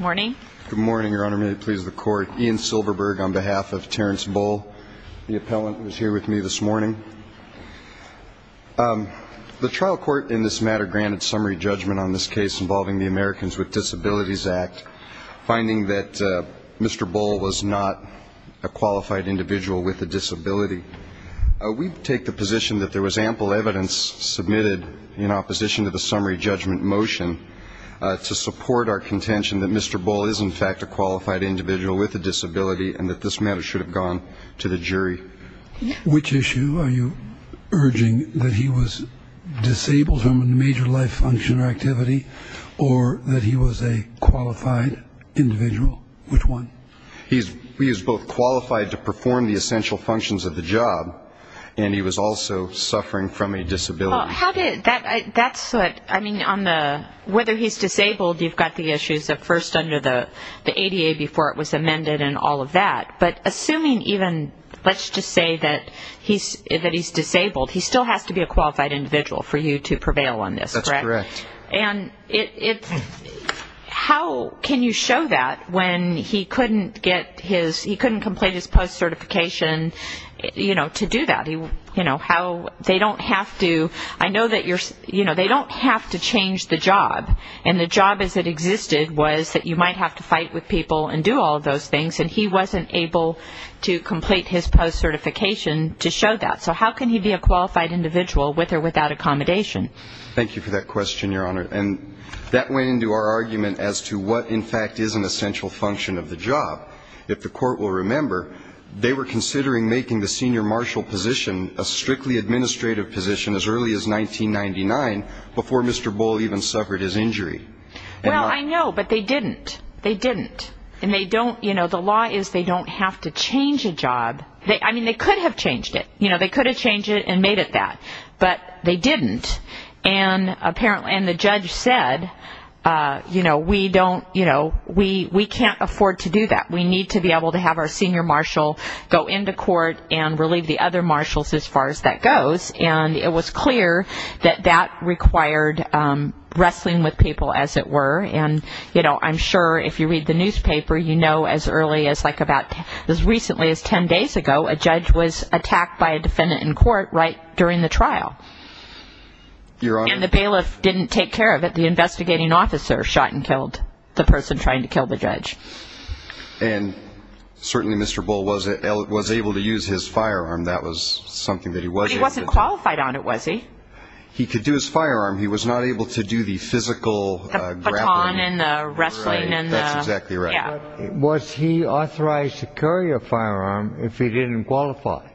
Good morning, Your Honor. May it please the Court, Ian Silverberg on behalf of Terrence Bohl, the appellant who is here with me this morning. The trial court in this matter granted summary judgment on this case involving the Americans with Disabilities Act, finding that Mr. Bohl was not a qualified individual with a disability. We take the position that there was ample evidence submitted in opposition to the summary judgment motion to support our contention that Mr. Bohl is, in fact, a qualified individual with a disability and that this matter should have gone to the jury. Which issue are you urging, that he was disabled from a major life function or activity or that he was a qualified individual? Which one? He is both qualified to perform the essential functions of the job and he was also suffering from a disability. Well, whether he's disabled, you've got the issues of first under the ADA before it was amended and all of that. But assuming even, let's just say that he's disabled, he still has to be a qualified individual for you to prevail on this, correct? That's correct. And how can you show that when he couldn't get his, he couldn't complete his post-certification, you know, to do that? You know, how they don't have to, I know that you're, you know, they don't have to change the job and the job as it existed was that you might have to fight with people and do all of those things and he wasn't able to complete his post-certification to show that. So how can he be a qualified individual with or without accommodation? Thank you for that question, Your Honor. And that went into our argument as to what, in fact, is an essential function of the job. If the court will remember, they were considering making the senior marshal position a strictly administrative position as early as 1999 before Mr. Bull even suffered his injury. Well, I know, but they didn't. They didn't. And they don't, you know, the law is they don't have to change a job. I mean, they could have changed it. You know, they could have changed it and made it that. But they didn't. And apparently, and the judge said, you know, we don't, you know, we can't afford to do that. We need to be able to have our senior marshal go into court and relieve the other marshals as far as that goes. And it was clear that that required wrestling with people, as it were. And, you know, I'm sure if you read the newspaper, you know as early as like about as recently as 10 days ago, a judge was attacked by a defendant in court right during the trial. Your Honor. And the bailiff didn't take care of it. The investigating officer shot and killed the person trying to kill the judge. And certainly Mr. Bull was able to use his firearm. That was something that he was able to do. But he wasn't qualified on it, was he? He could do his firearm. He was not able to do the physical grappling. The baton and the wrestling and the... That's exactly right. Yeah. Was he authorized to carry a firearm if he didn't qualify?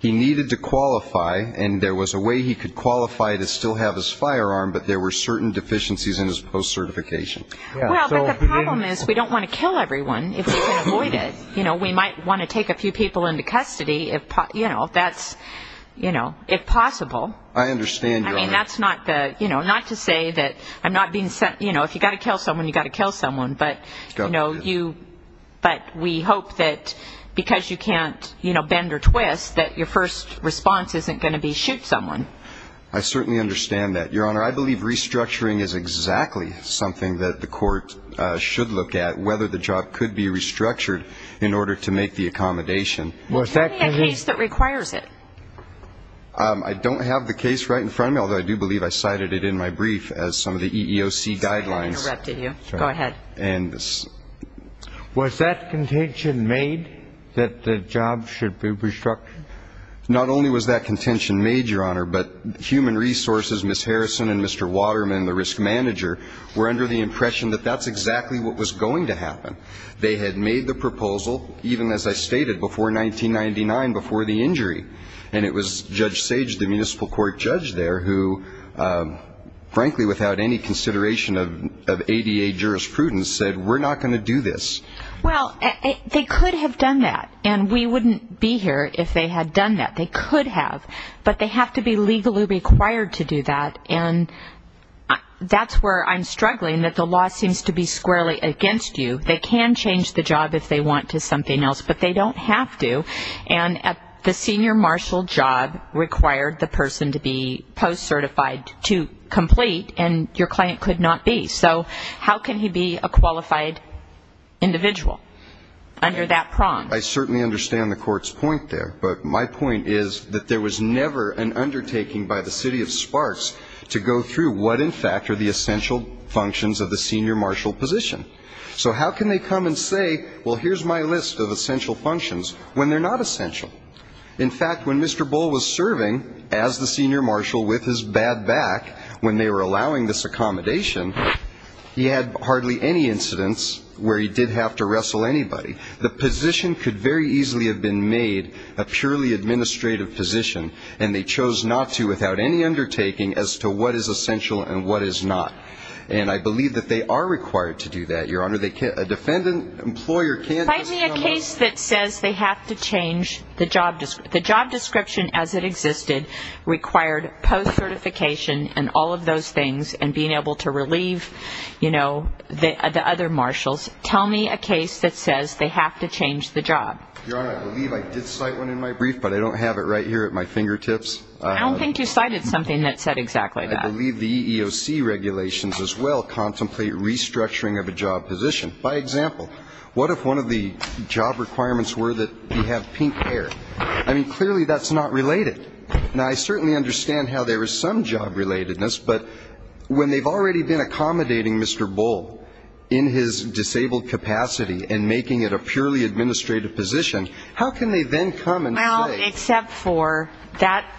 He needed to qualify, and there was a way he could qualify to still have his firearm, but there were certain deficiencies in his post-certification. Well, but the problem is we don't want to kill everyone if we can avoid it. You know, we might want to take a few people into custody, you know, if possible. I understand, Your Honor. I mean, that's not the, you know, not to say that I'm not being... You know, if you've got to kill someone, you've got to kill someone. But, you know, you... But we hope that because you can't, you know, bend or twist, that your first response isn't going to be shoot someone. I certainly understand that, Your Honor. I believe restructuring is exactly something that the court should look at, whether the job could be restructured in order to make the accommodation. Was there any case that requires it? I don't have the case right in front of me, although I do believe I cited it in my brief as some of the EEOC guidelines. Sorry, I interrupted you. Go ahead. Was that contention made that the job should be restructured? Not only was that contention made, Your Honor, but Human Resources, Ms. Harrison and Mr. Waterman, the risk manager, were under the impression that that's exactly what was going to happen. They had made the proposal, even as I stated, before 1999, before the injury. And it was Judge Sage, the municipal court judge there, who frankly without any consideration of ADA jurisprudence, said we're not going to do this. Well, they could have done that, and we wouldn't be here if they had done that. They could have, but they have to be legally required to do that. And that's where I'm struggling, that the law seems to be squarely against you. They can change the job if they want to something else, but they don't have to. And the senior marshal job required the person to be post-certified to complete, and your client could not be. So how can he be a qualified individual under that prong? I certainly understand the court's point there, but my point is that there was never an undertaking by the city of Sparks to go through what in fact are the essential functions of the senior marshal position. So how can they come and say, well, here's my list of essential functions, when they're not essential? In fact, when Mr. Bull was serving as the senior marshal with his bad back, when they were allowing this accommodation, he had hardly any incidents where he did have to wrestle anybody. The position could very easily have been made a purely administrative position, and they chose not to without any undertaking as to what is essential and what is not. And I believe that they are required to do that, Your Honor. A defendant employer can't just come up. Tell me a case that says they have to change the job description as it existed, required post-certification and all of those things, and being able to relieve, you know, the other marshals. Tell me a case that says they have to change the job. Your Honor, I believe I did cite one in my brief, but I don't have it right here at my fingertips. I don't think you cited something that said exactly that. I believe the EEOC regulations as well contemplate restructuring of a job position. By example, what if one of the job requirements were that you have pink hair? I mean, clearly that's not related. Now, I certainly understand how there is some job relatedness, but when they've already been accommodating Mr. Bull in his disabled capacity and making it a purely administrative position, how can they then come and say? Well, except for that,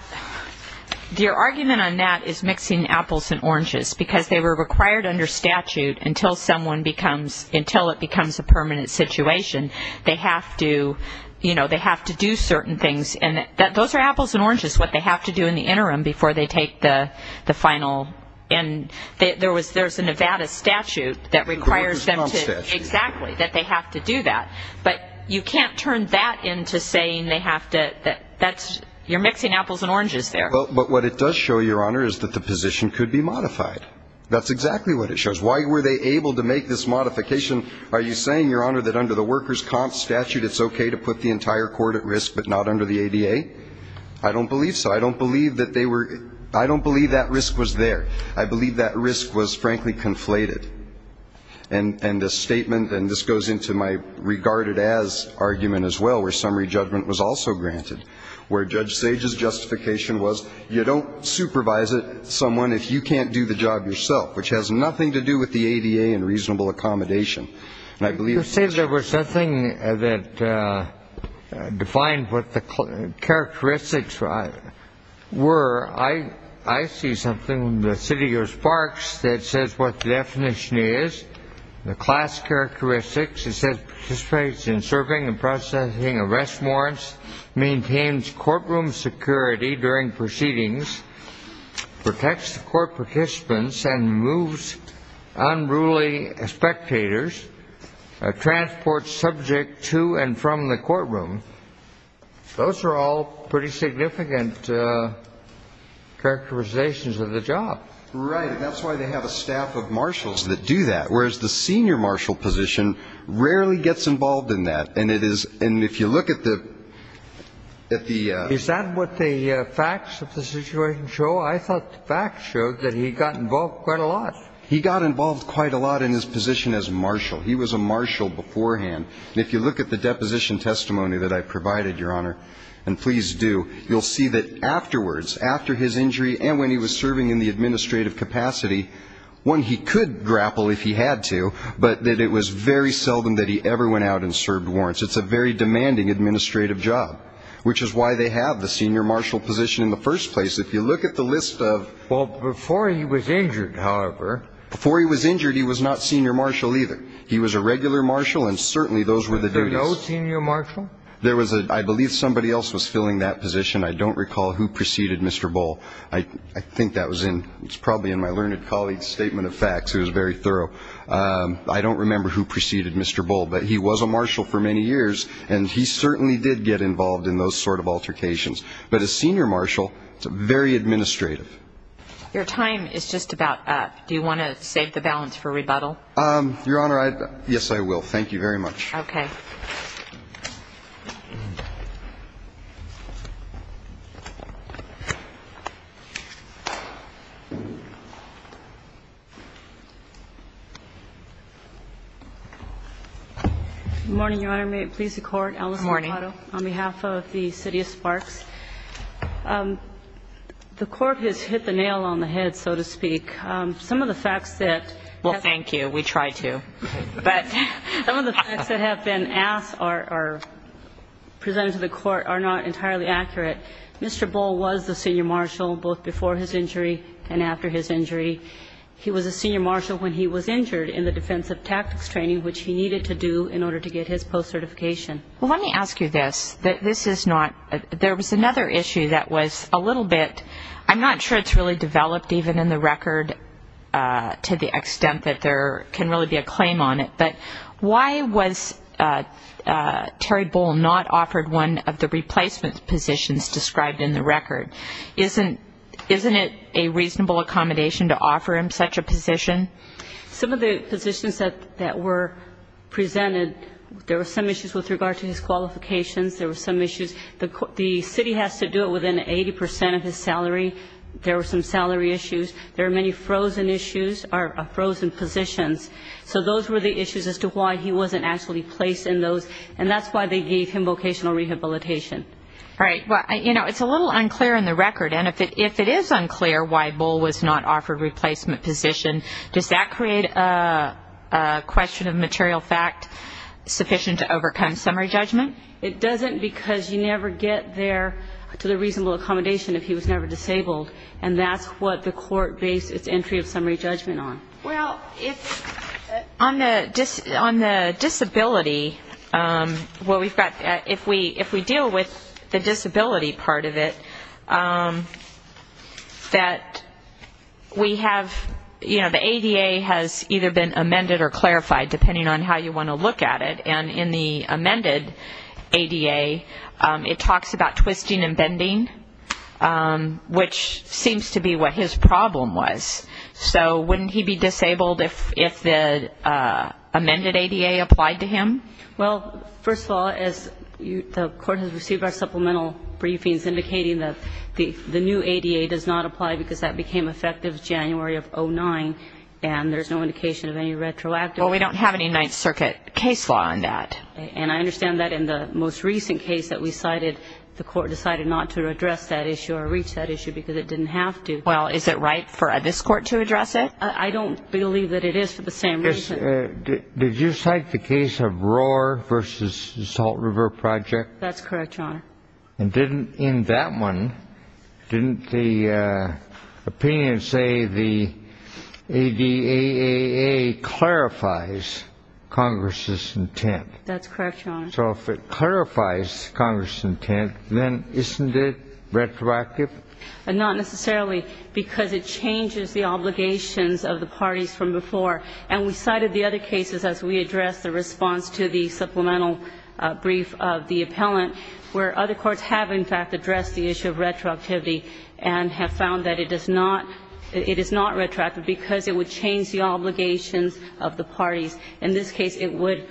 your argument on that is mixing apples and oranges, because they were required under statute until someone becomes, until it becomes a permanent situation, they have to, you know, they have to do certain things. And those are apples and oranges, which is what they have to do in the interim before they take the final. And there was, there's a Nevada statute that requires them to. The workers' comp statute. Exactly, that they have to do that. But you can't turn that into saying they have to, that's, you're mixing apples and oranges there. But what it does show, your Honor, is that the position could be modified. That's exactly what it shows. Why were they able to make this modification? Are you saying, your Honor, that under the workers' comp statute, it's okay to put the entire court at risk but not under the ADA? I don't believe so. I don't believe that they were, I don't believe that risk was there. I believe that risk was, frankly, conflated. And the statement, and this goes into my regarded as argument as well, where summary judgment was also granted, where Judge Sage's justification was you don't supervise someone if you can't do the job yourself, which has nothing to do with the ADA and reasonable accommodation. You say there was nothing that defined what the characteristics were. I see something in the city of Sparks that says what the definition is. The class characteristics, it says, participates in serving and processing arrest warrants, maintains courtroom security during proceedings, protects the court participants and removes unruly spectators, transports subject to and from the courtroom. Those are all pretty significant characterizations of the job. Right. And that's why they have a staff of marshals that do that, whereas the senior marshal position rarely gets involved in that. And it is, and if you look at the at the Is that what the facts of the situation show? I thought the facts showed that he got involved quite a lot. He got involved quite a lot in his position as marshal. He was a marshal beforehand. If you look at the deposition testimony that I provided, Your Honor, and please do, you'll see that afterwards, after his injury and when he was serving in the administrative capacity, one he could grapple if he had to, but that it was very seldom that he ever went out and served warrants. It's a very demanding administrative job, which is why they have the senior marshal position in the first place. If you look at the list of. Well, before he was injured, however. Before he was injured, he was not senior marshal either. He was a regular marshal. And certainly those were the senior marshal. There was a I believe somebody else was filling that position. I don't recall who preceded Mr. Bull. I think that was in. It's probably in my learned colleague's statement of facts. It was very thorough. I don't remember who preceded Mr. Bull, but he was a marshal for many years, and he certainly did get involved in those sort of altercations. But as senior marshal, it's very administrative. Your time is just about up. Do you want to save the balance for rebuttal? Your Honor, yes, I will. Thank you very much. Okay. Good morning, Your Honor. May it please the Court. Good morning. On behalf of the city of Sparks. The Court has hit the nail on the head, so to speak. Some of the facts that. Well, thank you. We try to. But some of the facts that have been asked or presented to the Court are not entirely accurate. Mr. Bull was the senior marshal both before his injury and after his injury. He was a senior marshal when he was injured in the defensive tactics training, which he needed to do in order to get his post-certification. Well, let me ask you this. This is not. There was another issue that was a little bit. I'm not sure it's really developed even in the record to the extent that there can really be a claim on it, but why was Terry Bull not offered one of the replacement positions described in the record? Isn't it a reasonable accommodation to offer him such a position? Some of the positions that were presented, there were some issues with regard to his qualifications. There were some issues. The city has to do it within 80 percent of his salary. There were some salary issues. There were many frozen issues or frozen positions. So those were the issues as to why he wasn't actually placed in those, and that's why they gave him vocational rehabilitation. Right. Well, you know, it's a little unclear in the record, and if it is unclear why Bull was not offered a replacement position, does that create a question of material fact sufficient to overcome summary judgment? It doesn't because you never get there to the reasonable accommodation if he was never disabled, and that's what the Court based its entry of summary judgment on. Well, on the disability, if we deal with the disability part of it, that we have, you know, the ADA has either been amended or clarified, depending on how you want to look at it, and in the amended ADA it talks about twisting and bending, which seems to be what his problem was. So wouldn't he be disabled if the amended ADA applied to him? Well, first of all, as the Court has received our supplemental briefings indicating that the new ADA does not apply because that became effective January of 2009, and there's no indication of any retroactive. Well, we don't have any Ninth Circuit case law on that. And I understand that in the most recent case that we cited, the Court decided not to address that issue or reach that issue because it didn't have to. Well, is it right for this Court to address it? I don't believe that it is for the same reason. Did you cite the case of Rohr v. Salt River Project? That's correct, Your Honor. And didn't in that one, didn't the opinion say the ADAA clarifies Congress's intent? That's correct, Your Honor. So if it clarifies Congress's intent, then isn't it retroactive? Not necessarily, because it changes the obligations of the parties from before. And we cited the other cases as we addressed the response to the supplemental brief of the appellant where other courts have, in fact, addressed the issue of retroactivity and have found that it is not retroactive because it would change the obligations of the parties. In this case, it would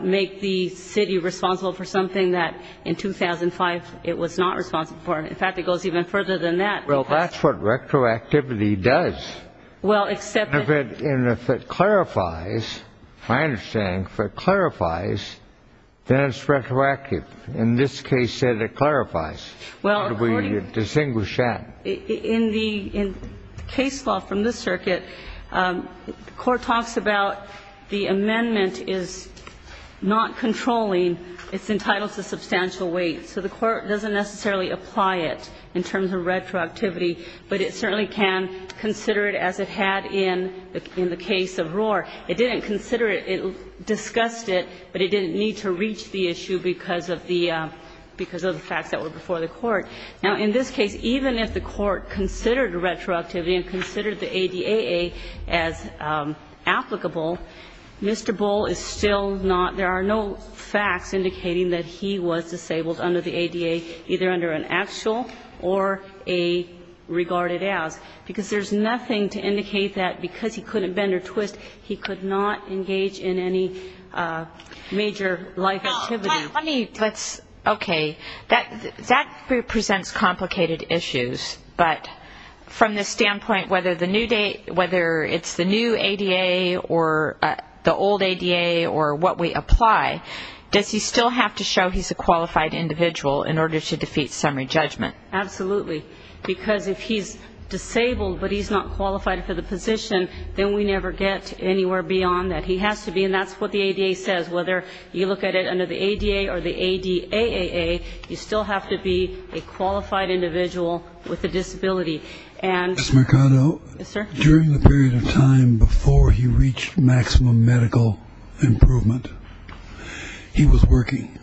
make the city responsible for something that in 2005 it was not responsible for. In fact, it goes even further than that. Well, that's what retroactivity does. Well, except that it's not. And if it clarifies, my understanding, if it clarifies, then it's retroactive. In this case, it clarifies. How do we distinguish that? In the case law from this circuit, the Court talks about the amendment is not controlling. It's entitled to substantial weight. So the Court doesn't necessarily apply it in terms of retroactivity, but it certainly can consider it as it had in the case of Rohr. It didn't consider it. It discussed it, but it didn't need to reach the issue because of the facts that were before the Court. Now, in this case, even if the Court considered retroactivity and considered the ADAA as applicable, Mr. Bull is still not – there are no facts indicating that he was disabled under the ADAA, either under an actual or a regarded as, because there's nothing to indicate that because he couldn't bend or twist, he could not engage in any major life activity. Let me – okay. That presents complicated issues. But from the standpoint whether it's the new ADA or the old ADA or what we apply, does he still have to show he's a qualified individual in order to defeat summary judgment? Absolutely. Because if he's disabled but he's not qualified for the position, then we never get anywhere beyond that. He has to be, and that's what the ADA says. Whether you look at it under the ADA or the ADAA, you still have to be a qualified individual with a disability. Ms. Mercado. Yes, sir. During the period of time before he reached maximum medical improvement, he was working,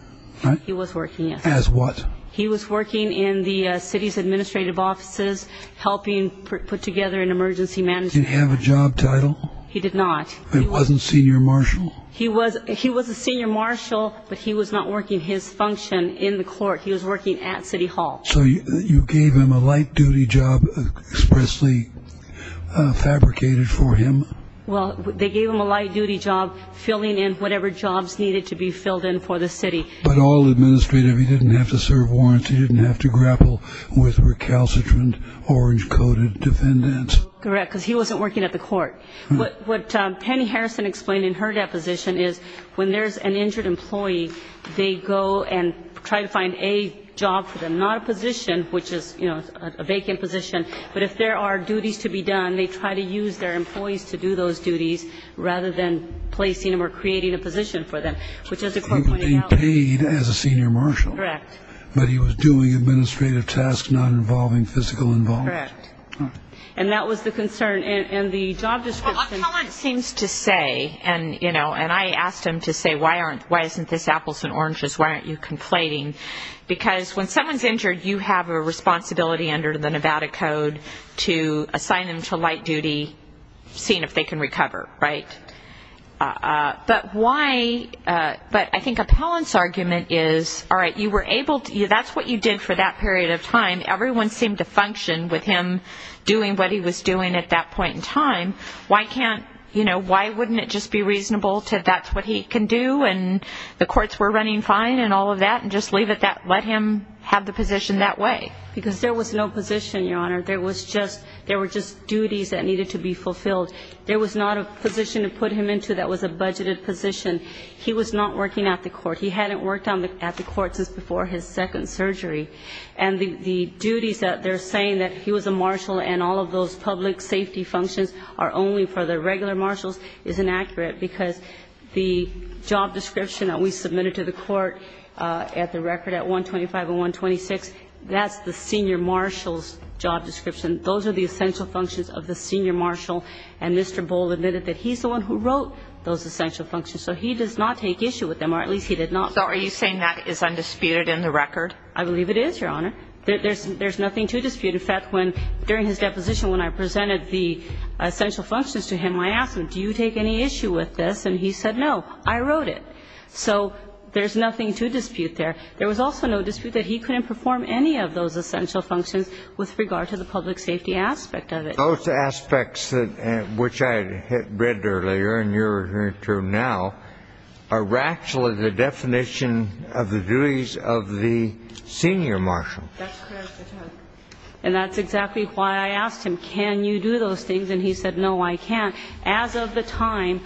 right? He was working, yes. As what? He was working in the city's administrative offices, helping put together an emergency management. Did he have a job title? He did not. He wasn't senior marshal? He was a senior marshal, but he was not working his function in the court. He was working at City Hall. So you gave him a light-duty job expressly fabricated for him? Well, they gave him a light-duty job filling in whatever jobs needed to be filled in for the city. But all administrative. He didn't have to serve warrants. He didn't have to grapple with recalcitrant, orange-coated defendants. Correct, because he wasn't working at the court. What Penny Harrison explained in her deposition is when there's an injured employee, they go and try to find a job for them, not a position, which is a vacant position. But if there are duties to be done, they try to use their employees to do those duties rather than placing them or creating a position for them, which is the court pointed out. He paid as a senior marshal. Correct. But he was doing administrative tasks not involving physical involvement. Correct. And that was the concern. And the job description seems to say, and, you know, and I asked him to say, why isn't this apples and oranges? Why aren't you conflating? Because when someone's injured, you have a responsibility under the Nevada Code to assign them to light duty, seeing if they can recover. Right? But why, but I think Appellant's argument is, all right, you were able, that's what you did for that period of time. Everyone seemed to function with him doing what he was doing at that point in time. Why can't, you know, why wouldn't it just be reasonable that that's what he can do and the courts were running fine and all of that and just leave it that, let him have the position that way? Because there was no position, Your Honor. There was just, there were just duties that needed to be fulfilled. There was not a position to put him into that was a budgeted position. He was not working at the court. He hadn't worked at the court since before his second surgery. And the duties that they're saying that he was a marshal and all of those public safety functions are only for the regular marshals is inaccurate because the job description that we submitted to the court at the record at 125 and 126, that's the senior marshal's job description. Those are the essential functions of the senior marshal. And Mr. Boal admitted that he's the one who wrote those essential functions. So he does not take issue with them, or at least he did not. So are you saying that is undisputed in the record? I believe it is, Your Honor. There's nothing to dispute. In fact, when, during his deposition when I presented the essential functions to him, I asked him, do you take any issue with this? And he said, no, I wrote it. So there's nothing to dispute there. There was also no dispute that he couldn't perform any of those essential functions with regard to the public safety aspect of it. Those aspects which I read earlier and you're hearing through now are actually the definition of the duties of the senior marshal. That's correct, Your Honor. And that's exactly why I asked him, can you do those things? And he said, no, I can't. As of the time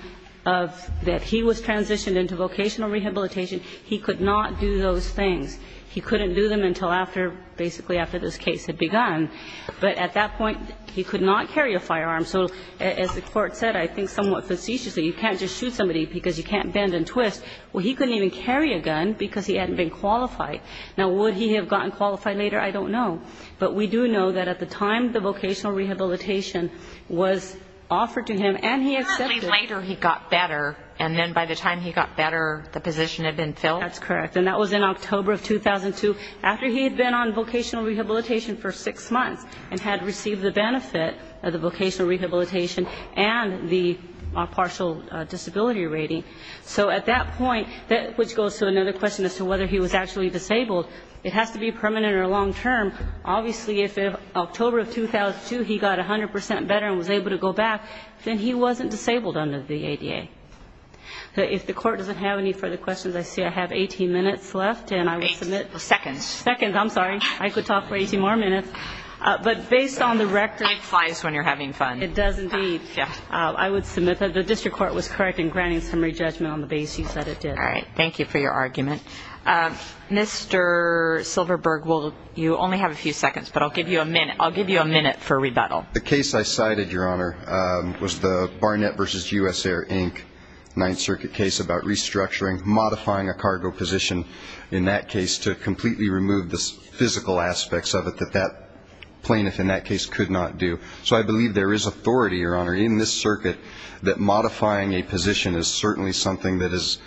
of that he was transitioned into vocational rehabilitation, he could not do those things. He couldn't do them until after, basically after this case had begun. But at that point, he could not carry a firearm. So as the Court said, I think somewhat facetiously, you can't just shoot somebody because you can't bend and twist. Well, he couldn't even carry a gun because he hadn't been qualified. Now, would he have gotten qualified later? I don't know. But we do know that at the time the vocational rehabilitation was offered to him and he accepted it. Apparently later he got better. And then by the time he got better, the position had been filled? That's correct. And that was in October of 2002, after he had been on vocational rehabilitation for six months and had received the benefit of the vocational rehabilitation and the partial disability rating. So at that point, which goes to another question as to whether he was actually disabled, it has to be permanent or long-term. Obviously, if in October of 2002 he got 100% better and was able to go back, then he wasn't disabled under the ADA. If the Court doesn't have any further questions, I see I have 18 minutes left and I will submit. Eight seconds. Seconds, I'm sorry. I could talk for 18 more minutes. But based on the record. Time flies when you're having fun. It does indeed. Yeah. I would submit that the District Court was correct in granting summary judgment on the base. You said it did. All right. Thank you for your argument. Mr. Silverberg, you only have a few seconds, but I'll give you a minute. I'll give you a minute for rebuttal. The case I cited, Your Honor, was the Barnett v. U.S. Air, Inc. Ninth Circuit case about restructuring, modifying a cargo position in that case to completely remove the physical aspects of it that that plaintiff in that case could not do. So I believe there is authority, Your Honor, in this circuit, that modifying a position is certainly something that is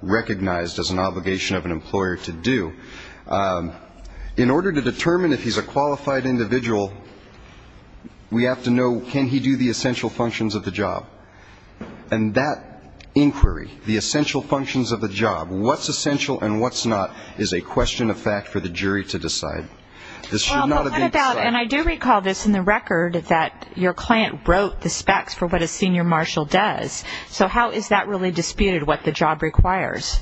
recognized as an obligation of an employer to do. In order to determine if he's a qualified individual, we have to know, can he do the essential functions of the job? And that inquiry, the essential functions of the job, what's essential and what's not is a question of fact for the jury to decide. This should not have been decided. And I do recall this in the record, that your client wrote the specs for what a senior marshal does. So how is that really disputed, what the job requires?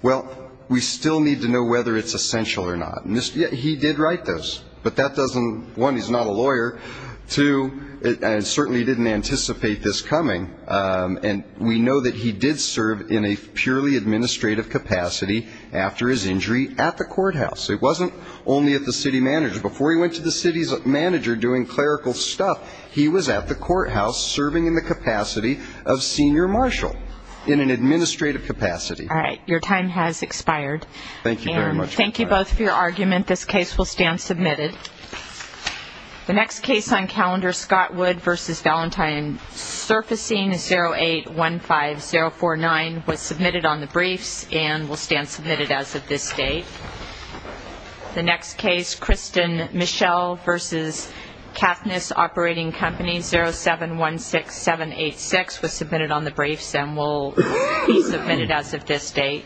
Well, we still need to know whether it's essential or not. He did write this, but that doesn't, one, he's not a lawyer, two, and certainly didn't anticipate this coming. And we know that he did serve in a purely administrative capacity after his injury at the courthouse. It wasn't only at the city manager. Before he went to the city's manager doing clerical stuff, he was at the courthouse serving in the capacity of senior marshal in an administrative capacity. All right. Your time has expired. Thank you very much. Thank you both for your argument. This case will stand submitted. The next case on calendar, Scott Wood v. Valentine, surfacing 0815049, was submitted on the briefs and will stand submitted as of this date. The next case, Kristen Michelle v. Kathniss Operating Company, 0716786, was submitted on the briefs and will be submitted as of this date.